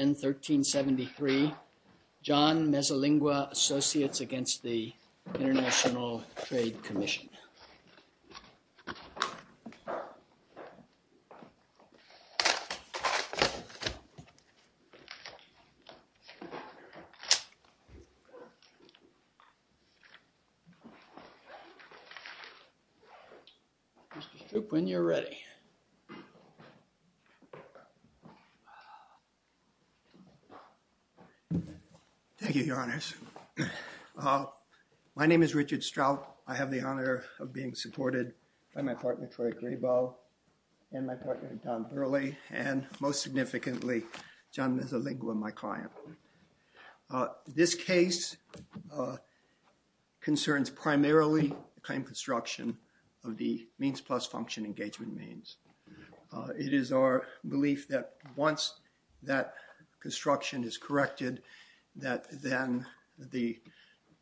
N1373 John Mezzalingua Associates Against the International Trade Commission When you're ready Thank you, your honors. My name is Richard Strout. I have the honor of being supported by my partner, Troy Grebo, and my partner, Don Burley, and most significantly, John Mezzalingua, my client. This case concerns primarily the claim construction of the means plus function engagement means. It is our belief that once that construction is corrected, that then the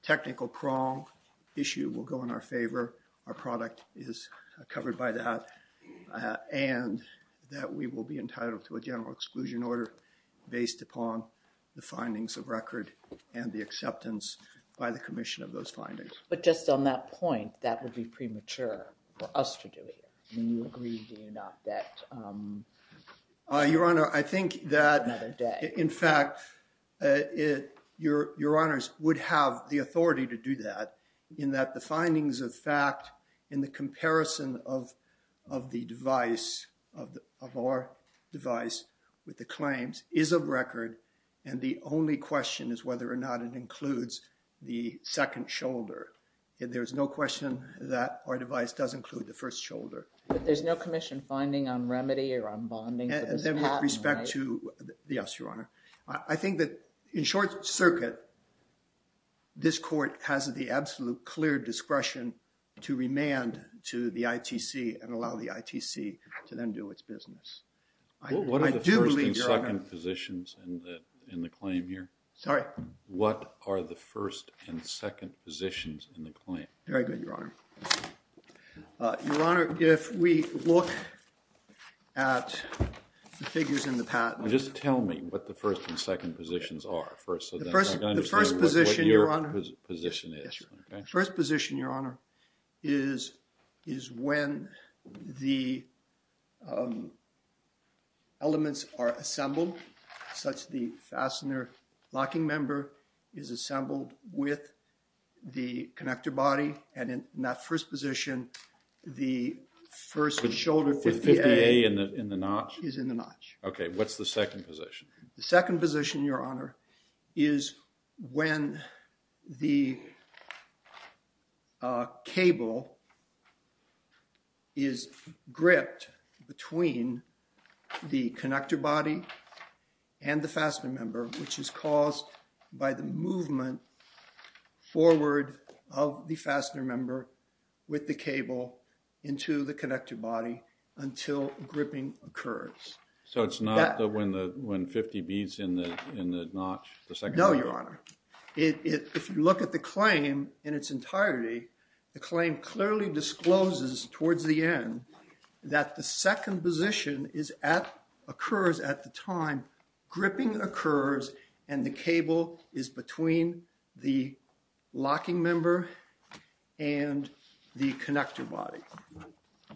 technical prong issue will go in our favor, our product is covered by that, and that we will be entitled to a general exclusion order based upon the findings of record and the acceptance by the Commission of those findings. But just on that point, that would be premature for us to do it. Your honor, I think that, in fact, your honors would have the authority to do that in that the findings of fact in the comparison of the device, of our device with the claims, is of record and the only question is whether or not it includes the second shoulder. There's no question that our device does include the first shoulder. But there's no Commission finding on remedy or on bonding? With respect to, yes, your honor, I think that in short circuit, this court has the absolute clear discretion to remand to the ITC and allow the ITC to then do its business. What are the first and second positions in the claim here? Sorry. What are the first and second positions in the claim? Very good, your honor. Your honor, if we look at the figures in the patent. Just tell me what the first and second positions are first. The first position, your honor, is is when the elements are assembled such the fastener locking member is assembled with the connector body and in that first position the first shoulder, 50A, is in the notch. Okay, what's the second position? The second position, your honor, is when the cable is gripped between the connector body and the fastener member, which is caused by the movement forward of the fastener member with the cable into the connector body until gripping occurs. So it's not when 50B is in the notch, the second one? No, your honor. If you look at the claim in its entirety, the claim clearly discloses towards the end that the second position occurs at the time gripping occurs and the cable is between the locking member and the connector body.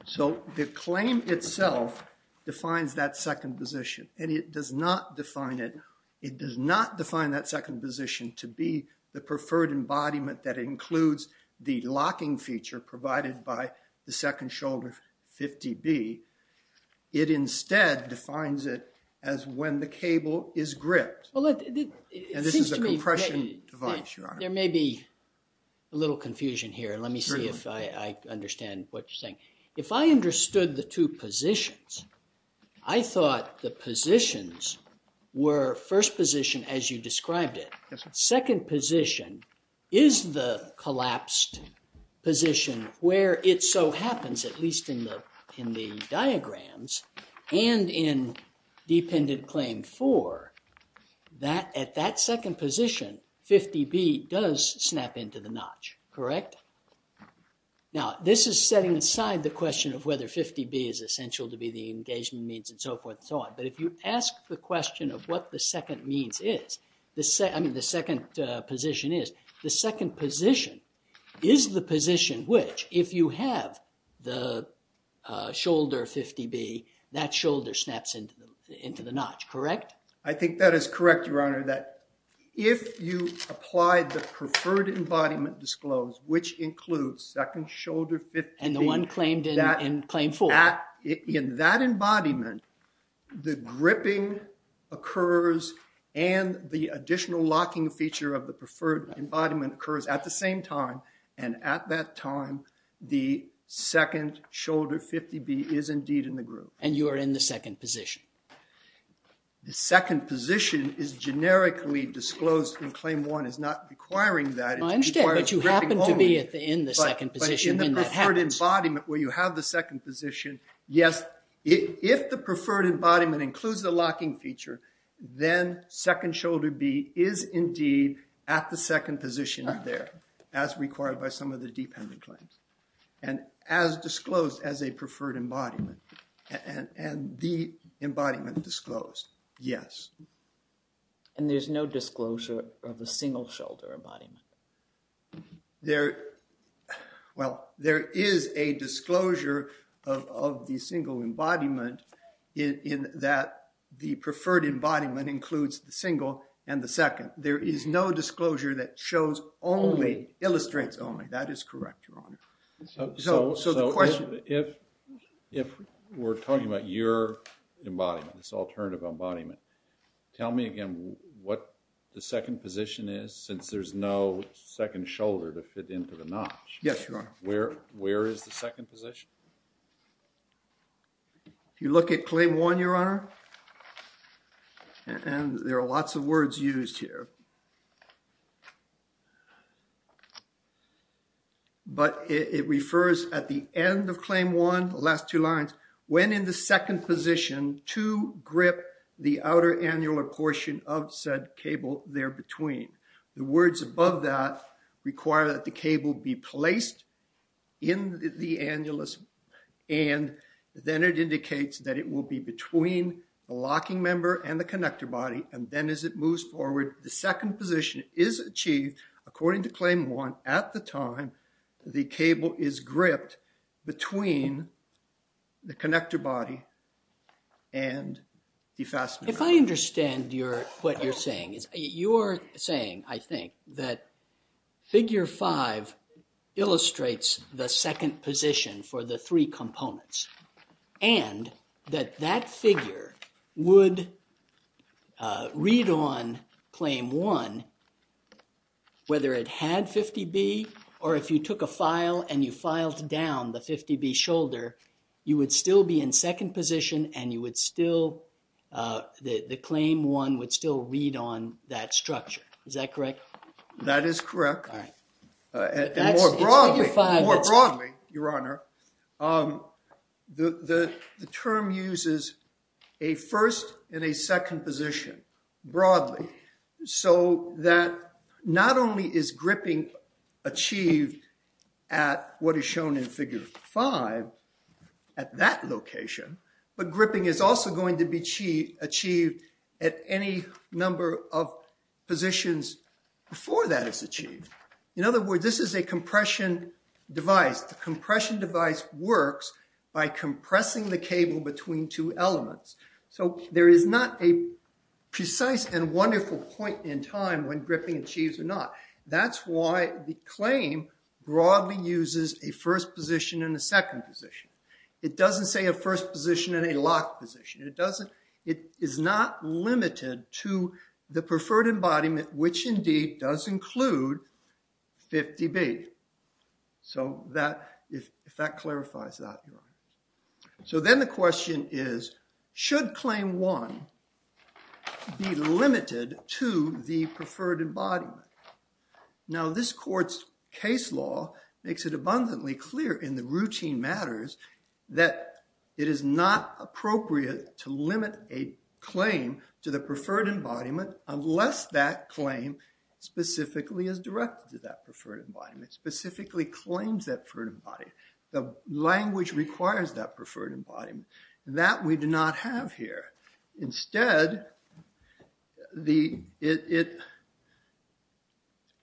So the claim itself defines that second position and it does not define it. It does not define that second position to be the preferred embodiment that includes the locking feature provided by the second shoulder, 50B. It instead defines it as when the cable is gripped. There may be a little confusion here. Let me see if I understand what you're saying. If I understood the two positions, I thought the positions were first position as you described it. Second position is the collapsed position where it so happens, at least in the in the diagrams, and in Dependent Claim 4, that at that second position, 50B does snap into the notch, correct? Now this is setting aside the question of whether 50B is essential to be the engagement means and so forth and so on. But if you ask the question of what the second means is, I mean the second position is, the second position is the position which, if you have the shoulder 50B, that shoulder snaps into the notch, correct? I think that is correct, Your Honor, that if you apply the preferred embodiment disclosed, which includes second shoulder 50B, and the one claimed in Claim 4, in that embodiment the gripping occurs and the additional locking feature of the preferred embodiment occurs at the same time, and at that time the second shoulder 50B is indeed in the groove. And you are in the second position? The second position is generically disclosed in Claim 1. It's not requiring that. I understand, but you happen to be in the second position. But in the preferred embodiment where you have the second position, yes, if the preferred embodiment includes the locking feature, then second shoulder B is indeed at the second position there, as required by some of the dependent claims, and as disclosed as a preferred embodiment, and the embodiment disclosed, yes. And there's no disclosure of a single shoulder embodiment? There, well, there is a disclosure of the single embodiment in that the preferred embodiment includes the single and the second. There is no disclosure that shows only, illustrates only. That is correct, Your Honor. So the question... If we're talking about your embodiment, this alternative embodiment, tell me again what the second position is since there's no second shoulder to fit into the notch. Yes, Your Honor. Where is the second position? If you look at Claim 1, Your Honor, and there are lots of words used here, but it refers at the end of Claim 1, the last two lines, when in the second position to grip the outer annular portion of said cable there between. The words above that require that the cable be placed in the annulus, and then it indicates that it will be between the locking member and the connector body, and then as it moves forward, the second position is achieved according to Claim 1 at the time the cable is gripped between the connector body and the fastener. If I understand what you're saying, you're saying, I think, that Figure 5 illustrates the second position for the three components, and that that figure would read on Claim 1 whether it had 50B, or if you took a file and you filed down the 50B shoulder, you would still be in second position, and you would still, the Claim 1 would still read on that structure. Is that correct? That is correct. More broadly, Your Honor, the term uses a first and a second position, broadly, so that not only is gripping achieved at what is shown in Figure 5, at that location, but gripping is also going to be achieved at any number of positions before that is achieved. In other words, this is a compression device. The compression device works by compressing the cable between two elements, so there is not a precise and wonderful point in time when gripping achieves or not. That's why the claim broadly uses a first position and a second position. It doesn't say a first position and a locked position. It doesn't, it is not limited to the preferred embodiment, which indeed does include 50B. So that, if that clarifies that, Your Honor. So then the question is, should Claim 1 be limited to the preferred embodiment? Now this court's case law makes it abundantly clear in the routine matters that it is not appropriate to limit a claim to the preferred embodiment unless that claim specifically is directed to that preferred embodiment, specifically claims that preferred embodiment. The language requires that preferred embodiment. That we do not have here. Instead, the, it,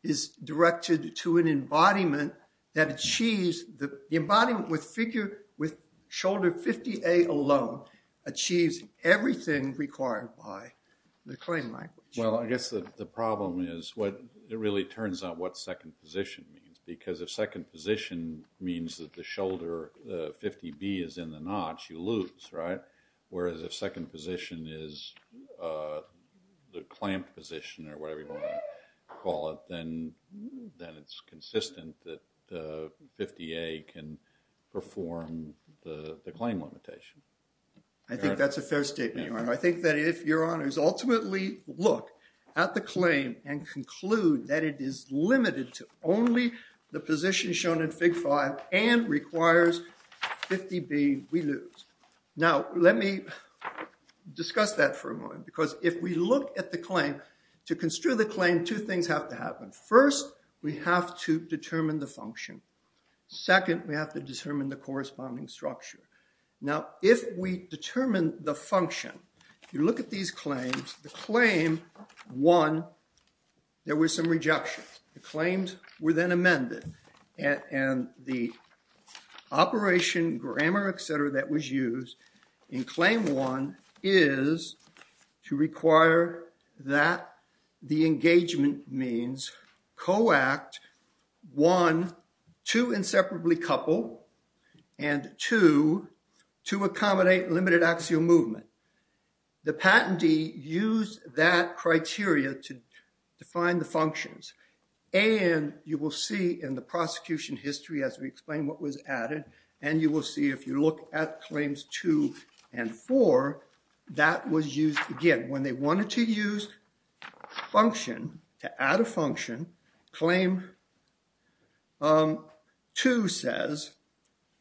is directed to an embodiment that achieves the embodiment with figure with shoulder 50A alone achieves everything required by the claim language. Well, I guess the problem is what it really turns out what second position means, because if second position means that the shoulder 50B is in the notch, you lose, right? Whereas if second position is the clamped position or whatever you want to call it, then it's consistent that 50A can perform the claim limitation. I think that's a fair statement, Your Honor. I think that if Your Honors ultimately look at the claim and conclude that it is limited to only the position shown in Fig. 5 and requires 50B, we lose. Now, let me discuss that for a moment, because if we look at the claim, to construe the claim, two things have to happen. First, we have to determine the function. Second, we have to determine the corresponding structure. Now, if we determine the function, you look at these claims, the claim 1, there were some rejections. The claims were then amended and the operation, grammar, etc., that was used in claim 1 is to require that the engagement means co-act one, to inseparably couple, and two, to accommodate limited axial movement. The patentee used that criteria to define the functions, and you will see in the prosecution history as we explain what was added, and you will see if you look at claims 2 and 4, that was used again. When they wanted to use function, to add a function, claim 2 says,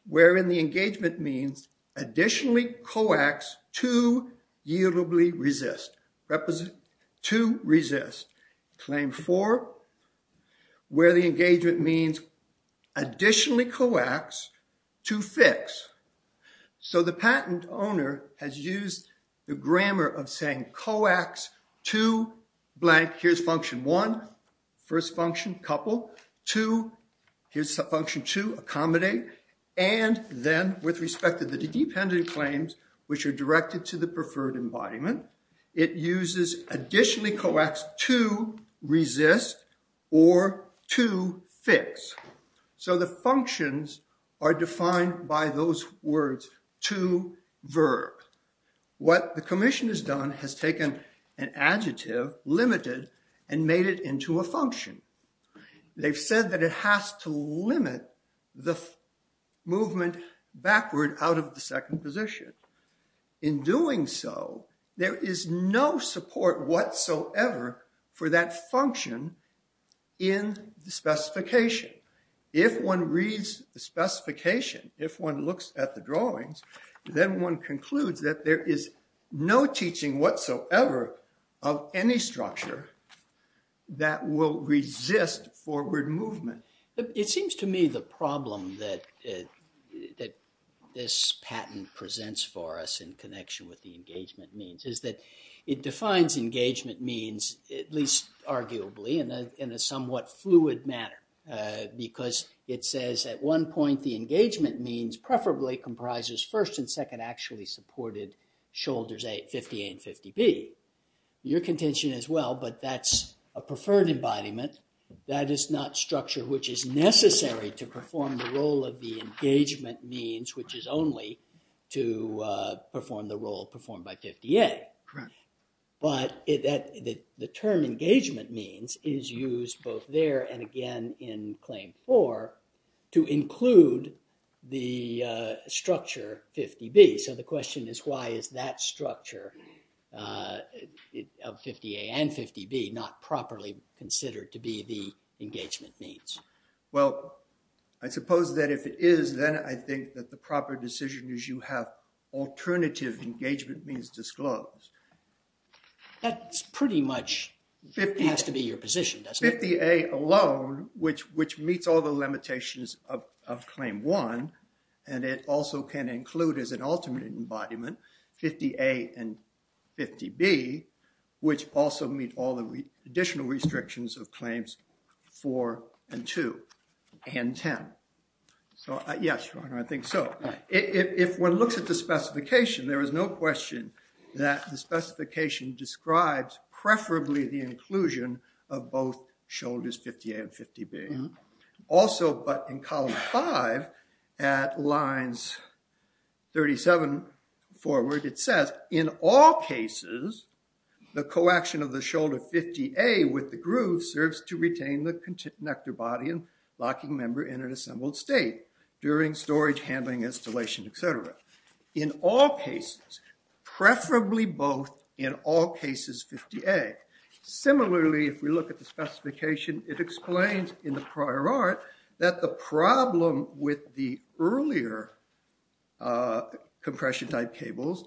wherein the engagement means additionally coax, to yieldably resist. To resist. Claim 4, where the engagement means additionally coax, to fix. So the patent owner has used the grammar of saying coax, to blank, here's function 1, first function, couple, to, here's function 2, accommodate, and then with respect to the dependent claims, which are directed to the preferred embodiment, it uses additionally coax, to resist, or to fix. So the functions are defined by those words, to, verb. What the commission has done has taken an adjective, limited, and made it into a function. They've said that it has to limit the movement backward out of the second position. In doing so, there is no support whatsoever for that function in the specification. If one reads the specification, if one looks at the drawings, then one concludes that there is no teaching whatsoever of any structure that will resist forward movement. It seems to me the problem that that this patent presents for us in connection with the engagement means, is that it defines engagement means at least arguably in a somewhat fluid manner, because it says at one point the engagement means preferably comprises first and second actually supported shoulders 58 and 50B. Your contention as well, but that's a preferred embodiment. That is not structure which is necessary to perform the role of the engagement means, which is only to perform the role performed by 50A. But the term engagement means is used both there and again in Claim 4 to include the structure 50B. So the question is why is that structure of 50A and 50B not properly considered to be the engagement means? Well, I suppose that if it is, then I think that the proper decision is you have alternative engagement means disclosed. That's pretty much has to be your position, doesn't it? 50A alone, which meets all the limitations of Claim 1, and it also can include as an alternate embodiment 50A and 50B, which also meet all the additional restrictions of Claims 4 and 2 and 10. So, yes, your honor, I think so. If one looks at the specification, there is no question that the specification describes preferably the inclusion of both shoulders 50A and 50B. Also, but in column 5 at lines 37 forward, it says in all cases the co-action of the shoulder 50A with the groove serves to retain the connector body and locking member in an assembled state during storage handling installation, etc. In all cases, preferably both in all cases 50A. Similarly, if we look at the specification, it explains in the prior art that the problem with the earlier compression type cables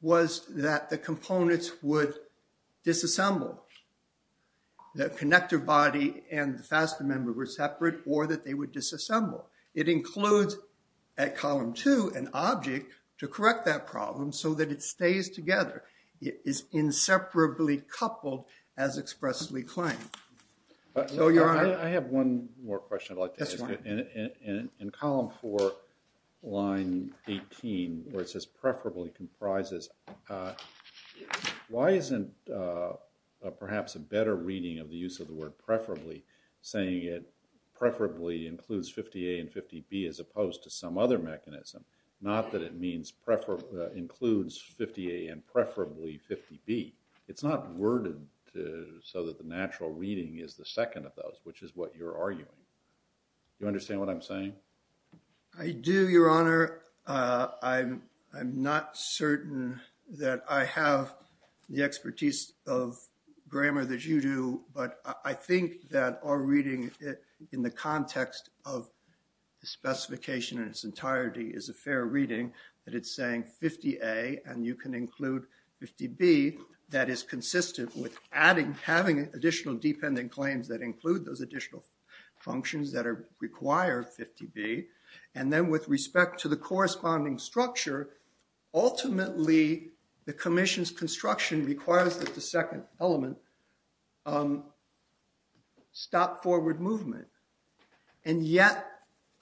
was that the components would disassemble. The connector body and the faster member were separate or that they would disassemble. It includes at column 2 an object to correct that problem so that it stays together. It is inseparably coupled as expressly claimed. So, your honor. I have one more question. I'd like to ask you. In column 4 line 18, where it says preferably comprises, why isn't perhaps a better reading of the use of the word preferably saying it preferably includes 50A and 50B as opposed to some other mechanism? Not that it means includes 50A and preferably 50B. It's not worded so that the natural reading is the second of those, which is what you're arguing. You understand what I'm saying? I do, your honor. I'm not certain that I have the expertise of grammar that you do, but I think that our reading in the context of the specification in its entirety is a fair reading, that it's saying 50A and you can include 50B that is consistent with adding, having additional dependent claims that include those additional functions that are required 50B. And then with respect to the corresponding structure, ultimately the commission's construction requires that the second element stop forward movement and yet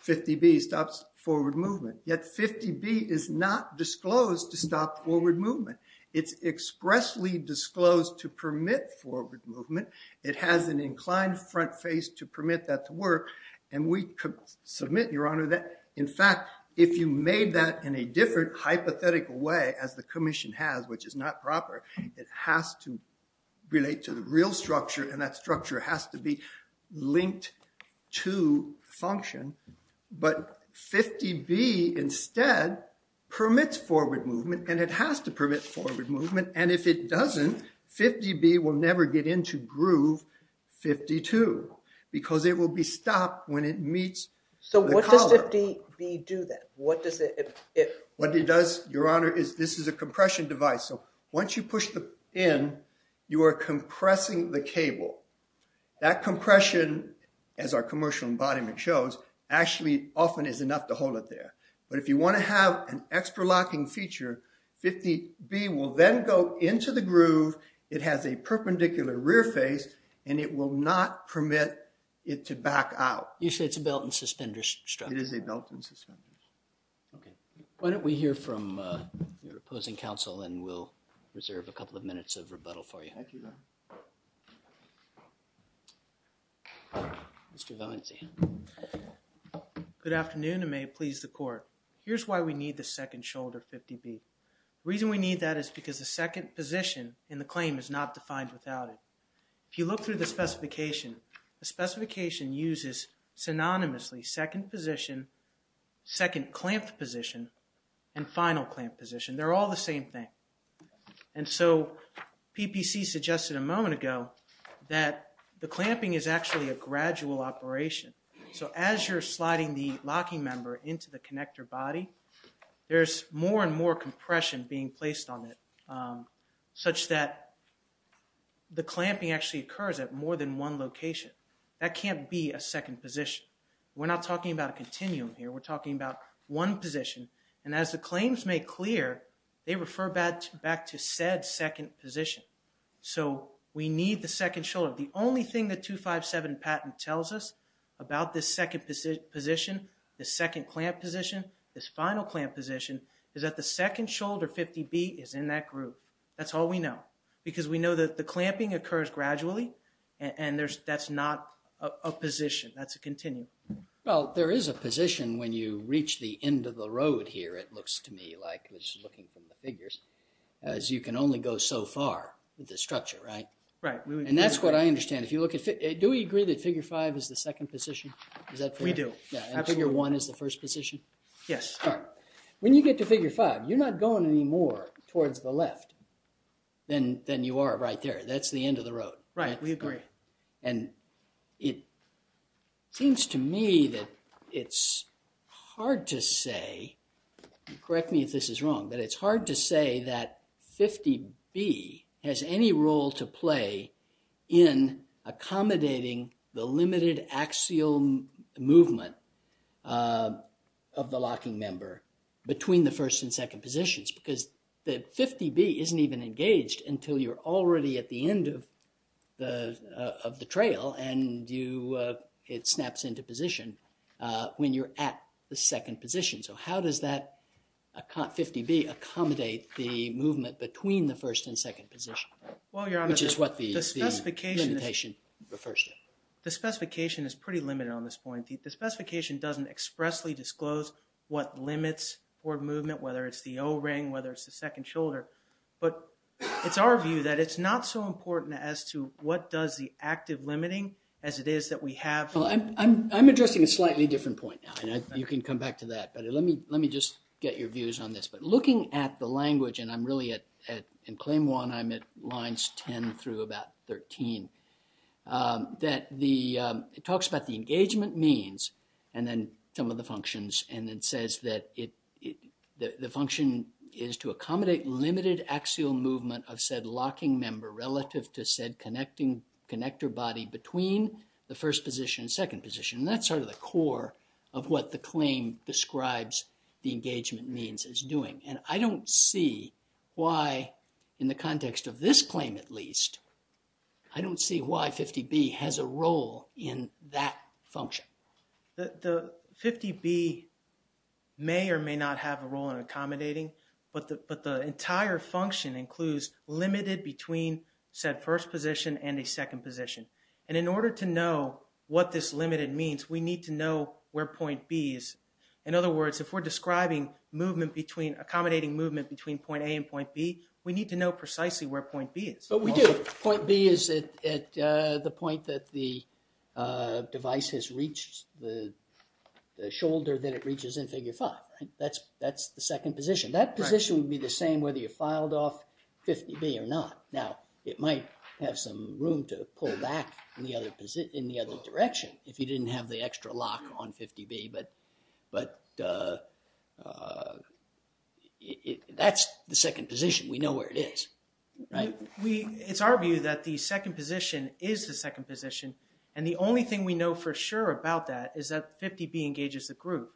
50B stops forward movement. Yet 50B is not disclosed to stop forward movement. It's expressly disclosed to permit forward movement. It has an inclined front face to permit that to work and we could submit, your honor, that in fact if you made that in a different hypothetical way as the commission has, which is not proper, it has to relate to the real structure and that structure has to be linked to function, but 50B instead permits forward movement and it has to permit forward movement. And if it doesn't, 50B will never get into groove 52 because it will be stopped when it meets. So what does 50B do then? What does it, what it does, your honor, is this is a compression device. So once you push the in, you are compressing the cable. That compression, as our commercial embodiment shows, actually often is enough to hold it there. But if you want to have an extra locking feature, 50B will then go into the groove. It has a perpendicular rear face and it will not permit it to back out. You say it's a belt and suspenders structure. It is a belt and suspenders. Okay, why don't we hear from your opposing counsel and we'll reserve a couple of minutes of rebuttal for you. Mr. Valencia. Good afternoon and may it please the court. Here's why we need the second shoulder 50B. Reason we need that is because the second position in the claim is not defined without it. If you look through the specification, the specification uses synonymously second position, second clamped position, and final clamped position. They're all the same thing. And so PPC suggested a moment ago that the clamping is actually a gradual operation. So as you're sliding the locking member into the connector body, there's more and more compression being placed on it such that the clamping actually occurs at more than one location. That can't be a second position. We're not talking about a continuum here. We're talking about one position and as the claims make clear, they refer back to said second position. So we need the second shoulder. The only thing that 257 patent tells us about this second position, the second clamp position, this final clamp position, is that the second shoulder 50B is in that group. That's all we know because we know that the clamping occurs gradually and there's that's not a position. That's a continuum. Well, there is a position when you reach the end of the road here. It looks to me like, just looking from the figures, as you can only go so far with this structure, right? Right. And that's what I understand. If you look at it, do we agree that figure 5 is the second position? We do. Figure 1 is the first position? Yes. When you get to figure 5, you're not going any more towards the left than you are right there. That's the end of the road. Right, we agree. And it seems to me that it's hard to say, correct me if this is wrong, but it's hard to say that 50B has any role to play in accommodating the limited axial movement of the locking member between the first and second positions because the 50B isn't even engaged until you're already at the end of the of the trail and you, it snaps into position when you're at the second position. So, how does that 50B accommodate the movement between the first and second position? Well, Your Honor, the specification is pretty limited on this point. The specification doesn't expressly disclose what limits forward movement, whether it's the O-ring, whether it's the second shoulder, but it's our view that it's not so important as to what does the active limiting as it is that we have. I'm addressing a slightly different point now. You can come back to that, but let me just get your views on this. But looking at the language, and I'm really at, in claim one, I'm at lines 10 through about 13, that the, it talks about the engagement means and then some of the functions and it says that it, the function is to accommodate limited axial movement of said locking member relative to said connecting connector body between the first position and second position. That's sort of the core of what the claim describes the engagement means is doing, and I don't see why, in the context of this claim at least, I don't see why 50B has a role in that function. The 50B may or may not have a role in accommodating, but the, but the entire function includes limited between said first position and a second position. And in order to know what this limited means, we need to know where point B is. In other words, if we're describing movement between, accommodating movement between point A and point B, we need to know precisely where point B is. But we do. Point B is at the point that the device has reached the shoulder that it reaches in figure five, right? That's, that's the second position. That position would be the same whether you filed off 50B or not. Now, it might have some room to pull back in the other position, in the other direction, if you didn't have the extra lock on 50B, but, but that's the second position. We know where it is, right? We, it's our view that the second position is the second position, and the only thing we know for sure about that is that 50B engages the group.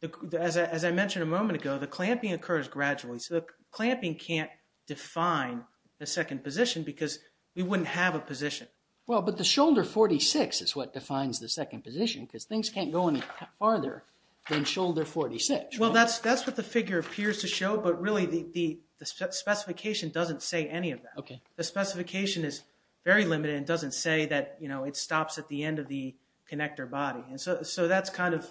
The, as I mentioned a moment ago, the clamping occurs gradually, so the clamping can't define the second position, because we wouldn't have a position. Well, but the shoulder 46 is what defines the second position, because things can't go any farther than shoulder 46. Well, that's, that's what the figure appears to show, but really the, the, the specification doesn't say any of that. Okay. The specification is very limited. It doesn't say that, you know, it stops at the end of the connector body. And so, so that's kind of,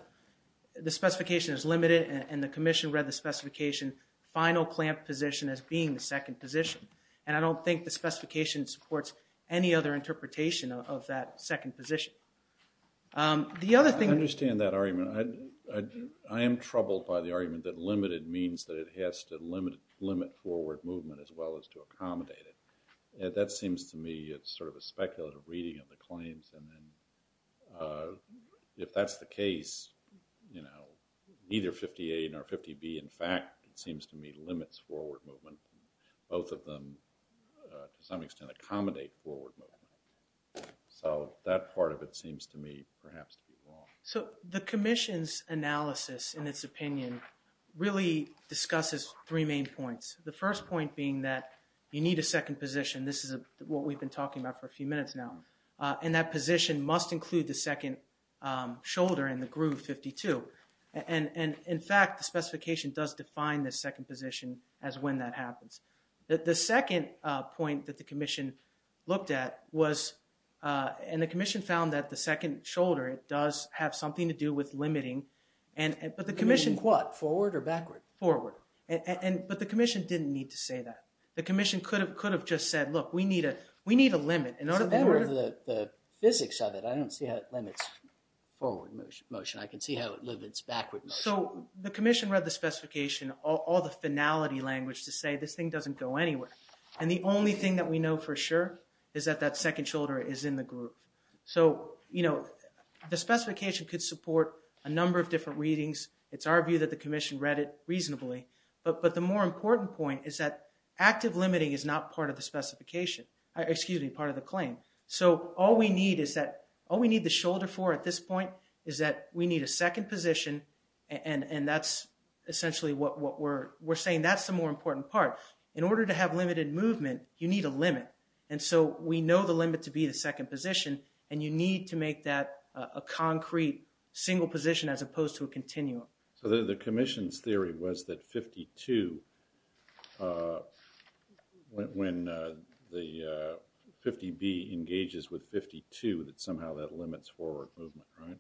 the specification is limited, and the Commission read the specification final clamp position as being the second position, and I don't think the specification supports any other interpretation of that second position. The other thing... I understand that argument. I, I am troubled by the argument that limited means that it has to limit, limit forward movement as well as to accommodate it. That seems to me, it's sort of a speculative reading of the claims, and then if that's the case, you know, either 58 or 50B, in fact, it seems to me, limits forward movement. Both of them, to some extent, accommodate forward movement. So, that part of it seems to me perhaps to be wrong. So, the Commission's analysis, in its opinion, really discusses three main points. The first point being that you need a second position. This is a, what we've been talking about for a few minutes now, and that position must include the second shoulder in the groove 52, and, and, in fact, the specification does define the second position as when that happens. The, the second point that the Commission looked at was, and the Commission found that the second shoulder, it does have something to do with limiting, and, but the Commission... What, forward or backward? Forward, and, and, but the Commission didn't need to say that. The Commission could have, could have just said, look, we need a, we need a limit. So, that was the, the physics of it. I don't see how it limits forward motion. I can see how it limits backward motion. So, the Commission read the specification, all the finality language to say this thing doesn't go anywhere, and the only thing that we know for sure is that that second shoulder is in the groove. So, you know, the specification could support a number of different readings. It's our view that the Commission read it reasonably, but, but the more important point is that active limiting is not part of the specification, excuse me, part of the claim. So, all we need is that, all we need the shoulder for at this point is that we need a second position, and, and that's essentially what we're, we're saying that's the more important part. In order to have limited movement, you need a limit, and so we know the limit to be the second position, and you need to make that a concrete single position as opposed to a continuum. So, the Commission's theory was that 52, when the 50B engages with 52, that somehow that limits forward movement, right?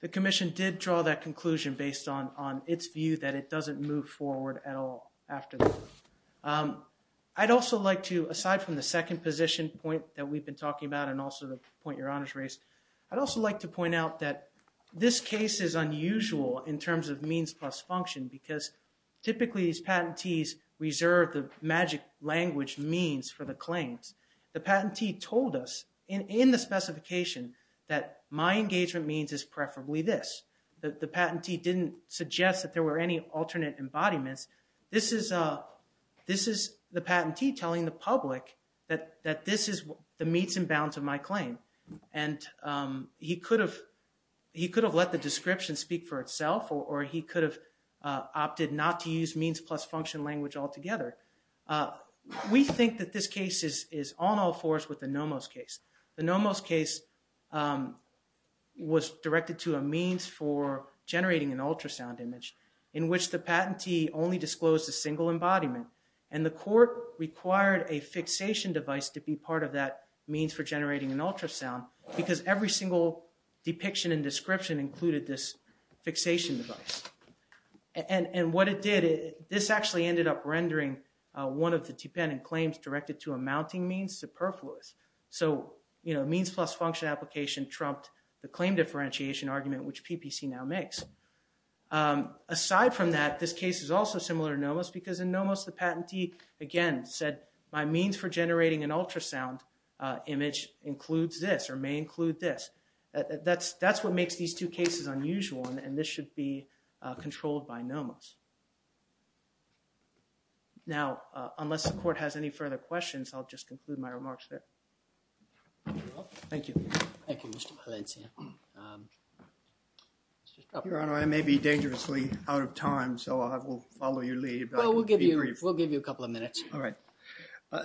The Commission did draw that conclusion based on, on its view that it doesn't move forward at all after that. I'd also like to, aside from the second position point that we've been talking about and also the point your honors raised, I'd also like to point out that this case is unusual in terms of means plus function, because typically these patentees reserve the magic language means for the claims. The patentee told us in, in the specification that my engagement means is preferably this. The, the patentee didn't suggest that there were any alternate embodiments. This is, this is the patentee telling the public that, that this is the meets and bounds of my claim, and he could have, he could have let the description speak for itself, or he could have opted not to use means plus function language altogether. We think that this case is, is on all fours with the Nomos case. The Nomos case was directed to a means for generating an ultrasound image in which the patentee only disclosed a single embodiment, and the court required a fixation device to be part of that means for generating an ultrasound, because every single depiction and description included this fixation device. And, and what it did, this actually ended up rendering one of the dependent claims directed to a mounting means superfluous. So, you know, means plus function application trumped the claim differentiation argument, which PPC now makes. Aside from that, this case is also similar to Nomos, because in Nomos the patentee, again, said my means for generating an ultrasound image includes this, or may include this. That's, that's what makes these two cases unusual, and this should be controlled by Nomos. Now, unless the court has any further questions, I'll just conclude my remarks there. Thank you. Thank you, Mr. Valencia. Your Honor, I may be dangerously out of time, so I will follow your lead. Well, we'll give you, we'll give you a couple of minutes. All right.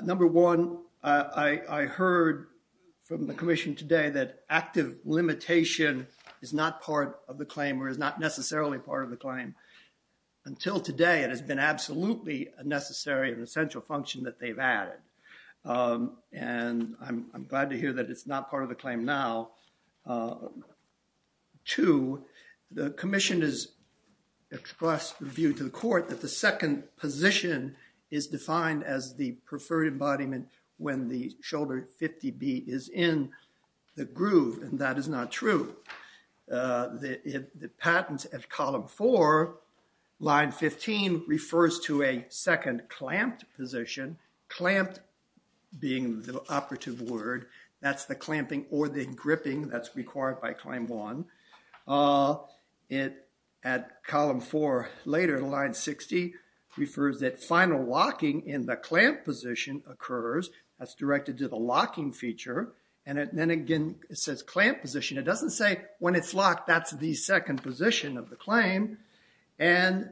Number one, I, I heard from the commission today that active limitation is not part of the claim, or is not necessarily part of the claim. Until today, it has been absolutely a necessary and essential function that they've added, and I'm glad to hear that it's not part of the claim now. Number two, the commission has expressed the view to the court that the second position is defined as the preferred embodiment when the shoulder 50B is in the groove, and that is not true. The, the patent at column four, line 15, refers to a second clamped position. Clamped being the operative word, that's the clamping or the gripping that's required by claim one. It, at column four later, line 60, refers that final locking in the clamp position occurs, that's directed to the locking feature, and then again, it says clamp position. It doesn't say when it's locked, that's the second position of the claim, and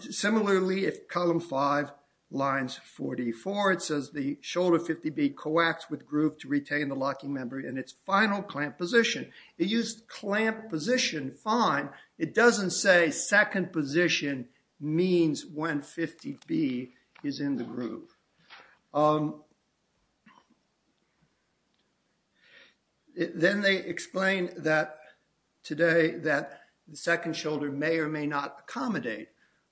similarly, if column five, lines 44, it says the shoulder 50B coax with groove to retain the locking membrane in its final clamp position. It used clamp position, fine, it doesn't say second position means when 50B is in the groove. Then they explain that today, that the second shoulder may or may not accommodate.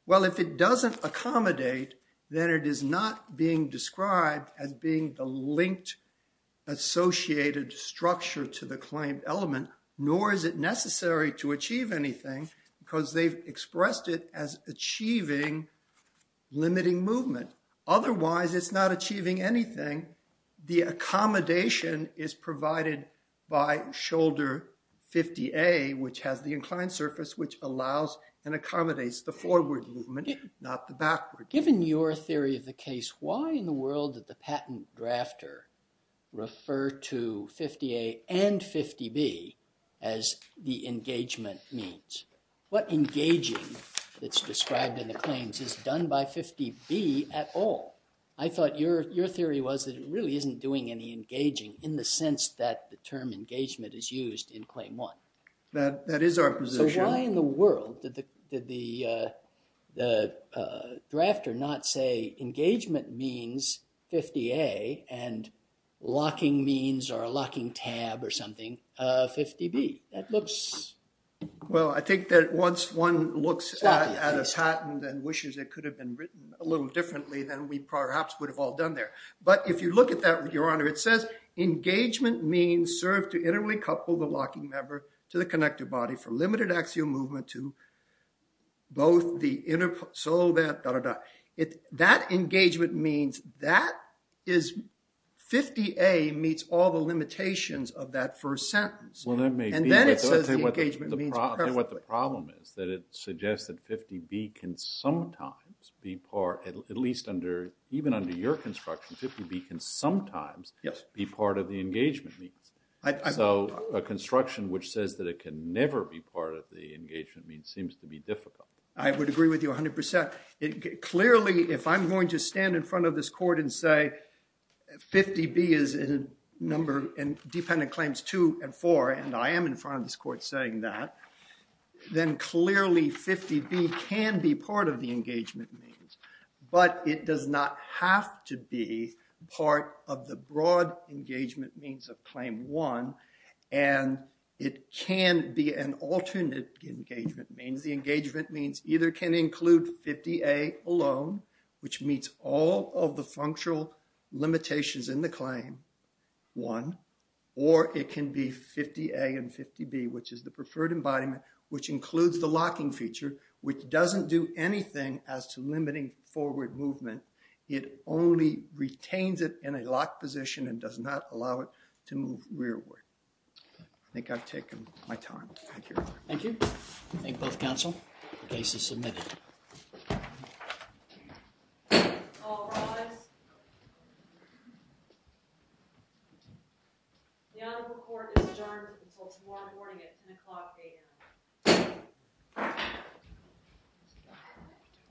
Well, if it doesn't accommodate, then it is not being described as being the linked associated structure to the claimed element, nor is it necessary to achieve anything, because they've expressed it as achieving limiting movement. Otherwise, it's not achieving anything. The accommodation is provided by shoulder 50A, which has the inclined surface, which allows and accommodates the forward movement, not the backward. Given your theory of the case, why in the world did the patent drafter refer to 50A and 50B as the engagement means? What engaging that's described in the claims is done by 50B at all? I thought your theory was that it really isn't doing any engaging, in the sense that the term engagement is used in claim one. That is our position. Why in the world did the drafter not say engagement means 50A and locking means, or a locking tab or something, 50B? That looks... Well, I think that once one looks at a patent and wishes it could have been written a little differently than we perhaps would have all done there. But if you look at that with your honor, it says engagement means serve to internally couple the locking lever to the connective body for limited axial movement to both the inner... That engagement means that is... 50A meets all the limitations of that first sentence. Well, that may be. And then it says the engagement means perfectly. What the problem is that it suggests that 50B can sometimes be part, at least under, even under your construction, 50B can sometimes be part of the engagement means. So a construction which says that it can never be part of the engagement means seems to be difficult. I would agree with you 100%. Clearly, if I'm going to stand in front of this court and say 50B is a number in dependent claims two and four, and I am in front of this court saying that, then clearly 50B can be part of the engagement means. But it does not have to be part of the one. And it can be an alternate engagement means. The engagement means either can include 50A alone, which meets all of the functional limitations in the claim one, or it can be 50A and 50B, which is the preferred embodiment, which includes the locking feature, which doesn't do anything as to limiting forward movement. It only retains it in a locked position and does not allow it to move rearward. I think I've taken my time. Thank you. Thank you. Thank both counsel. The case is submitted. All rise. The Honorable Court is adjourned until tomorrow morning at 10 o'clock AM.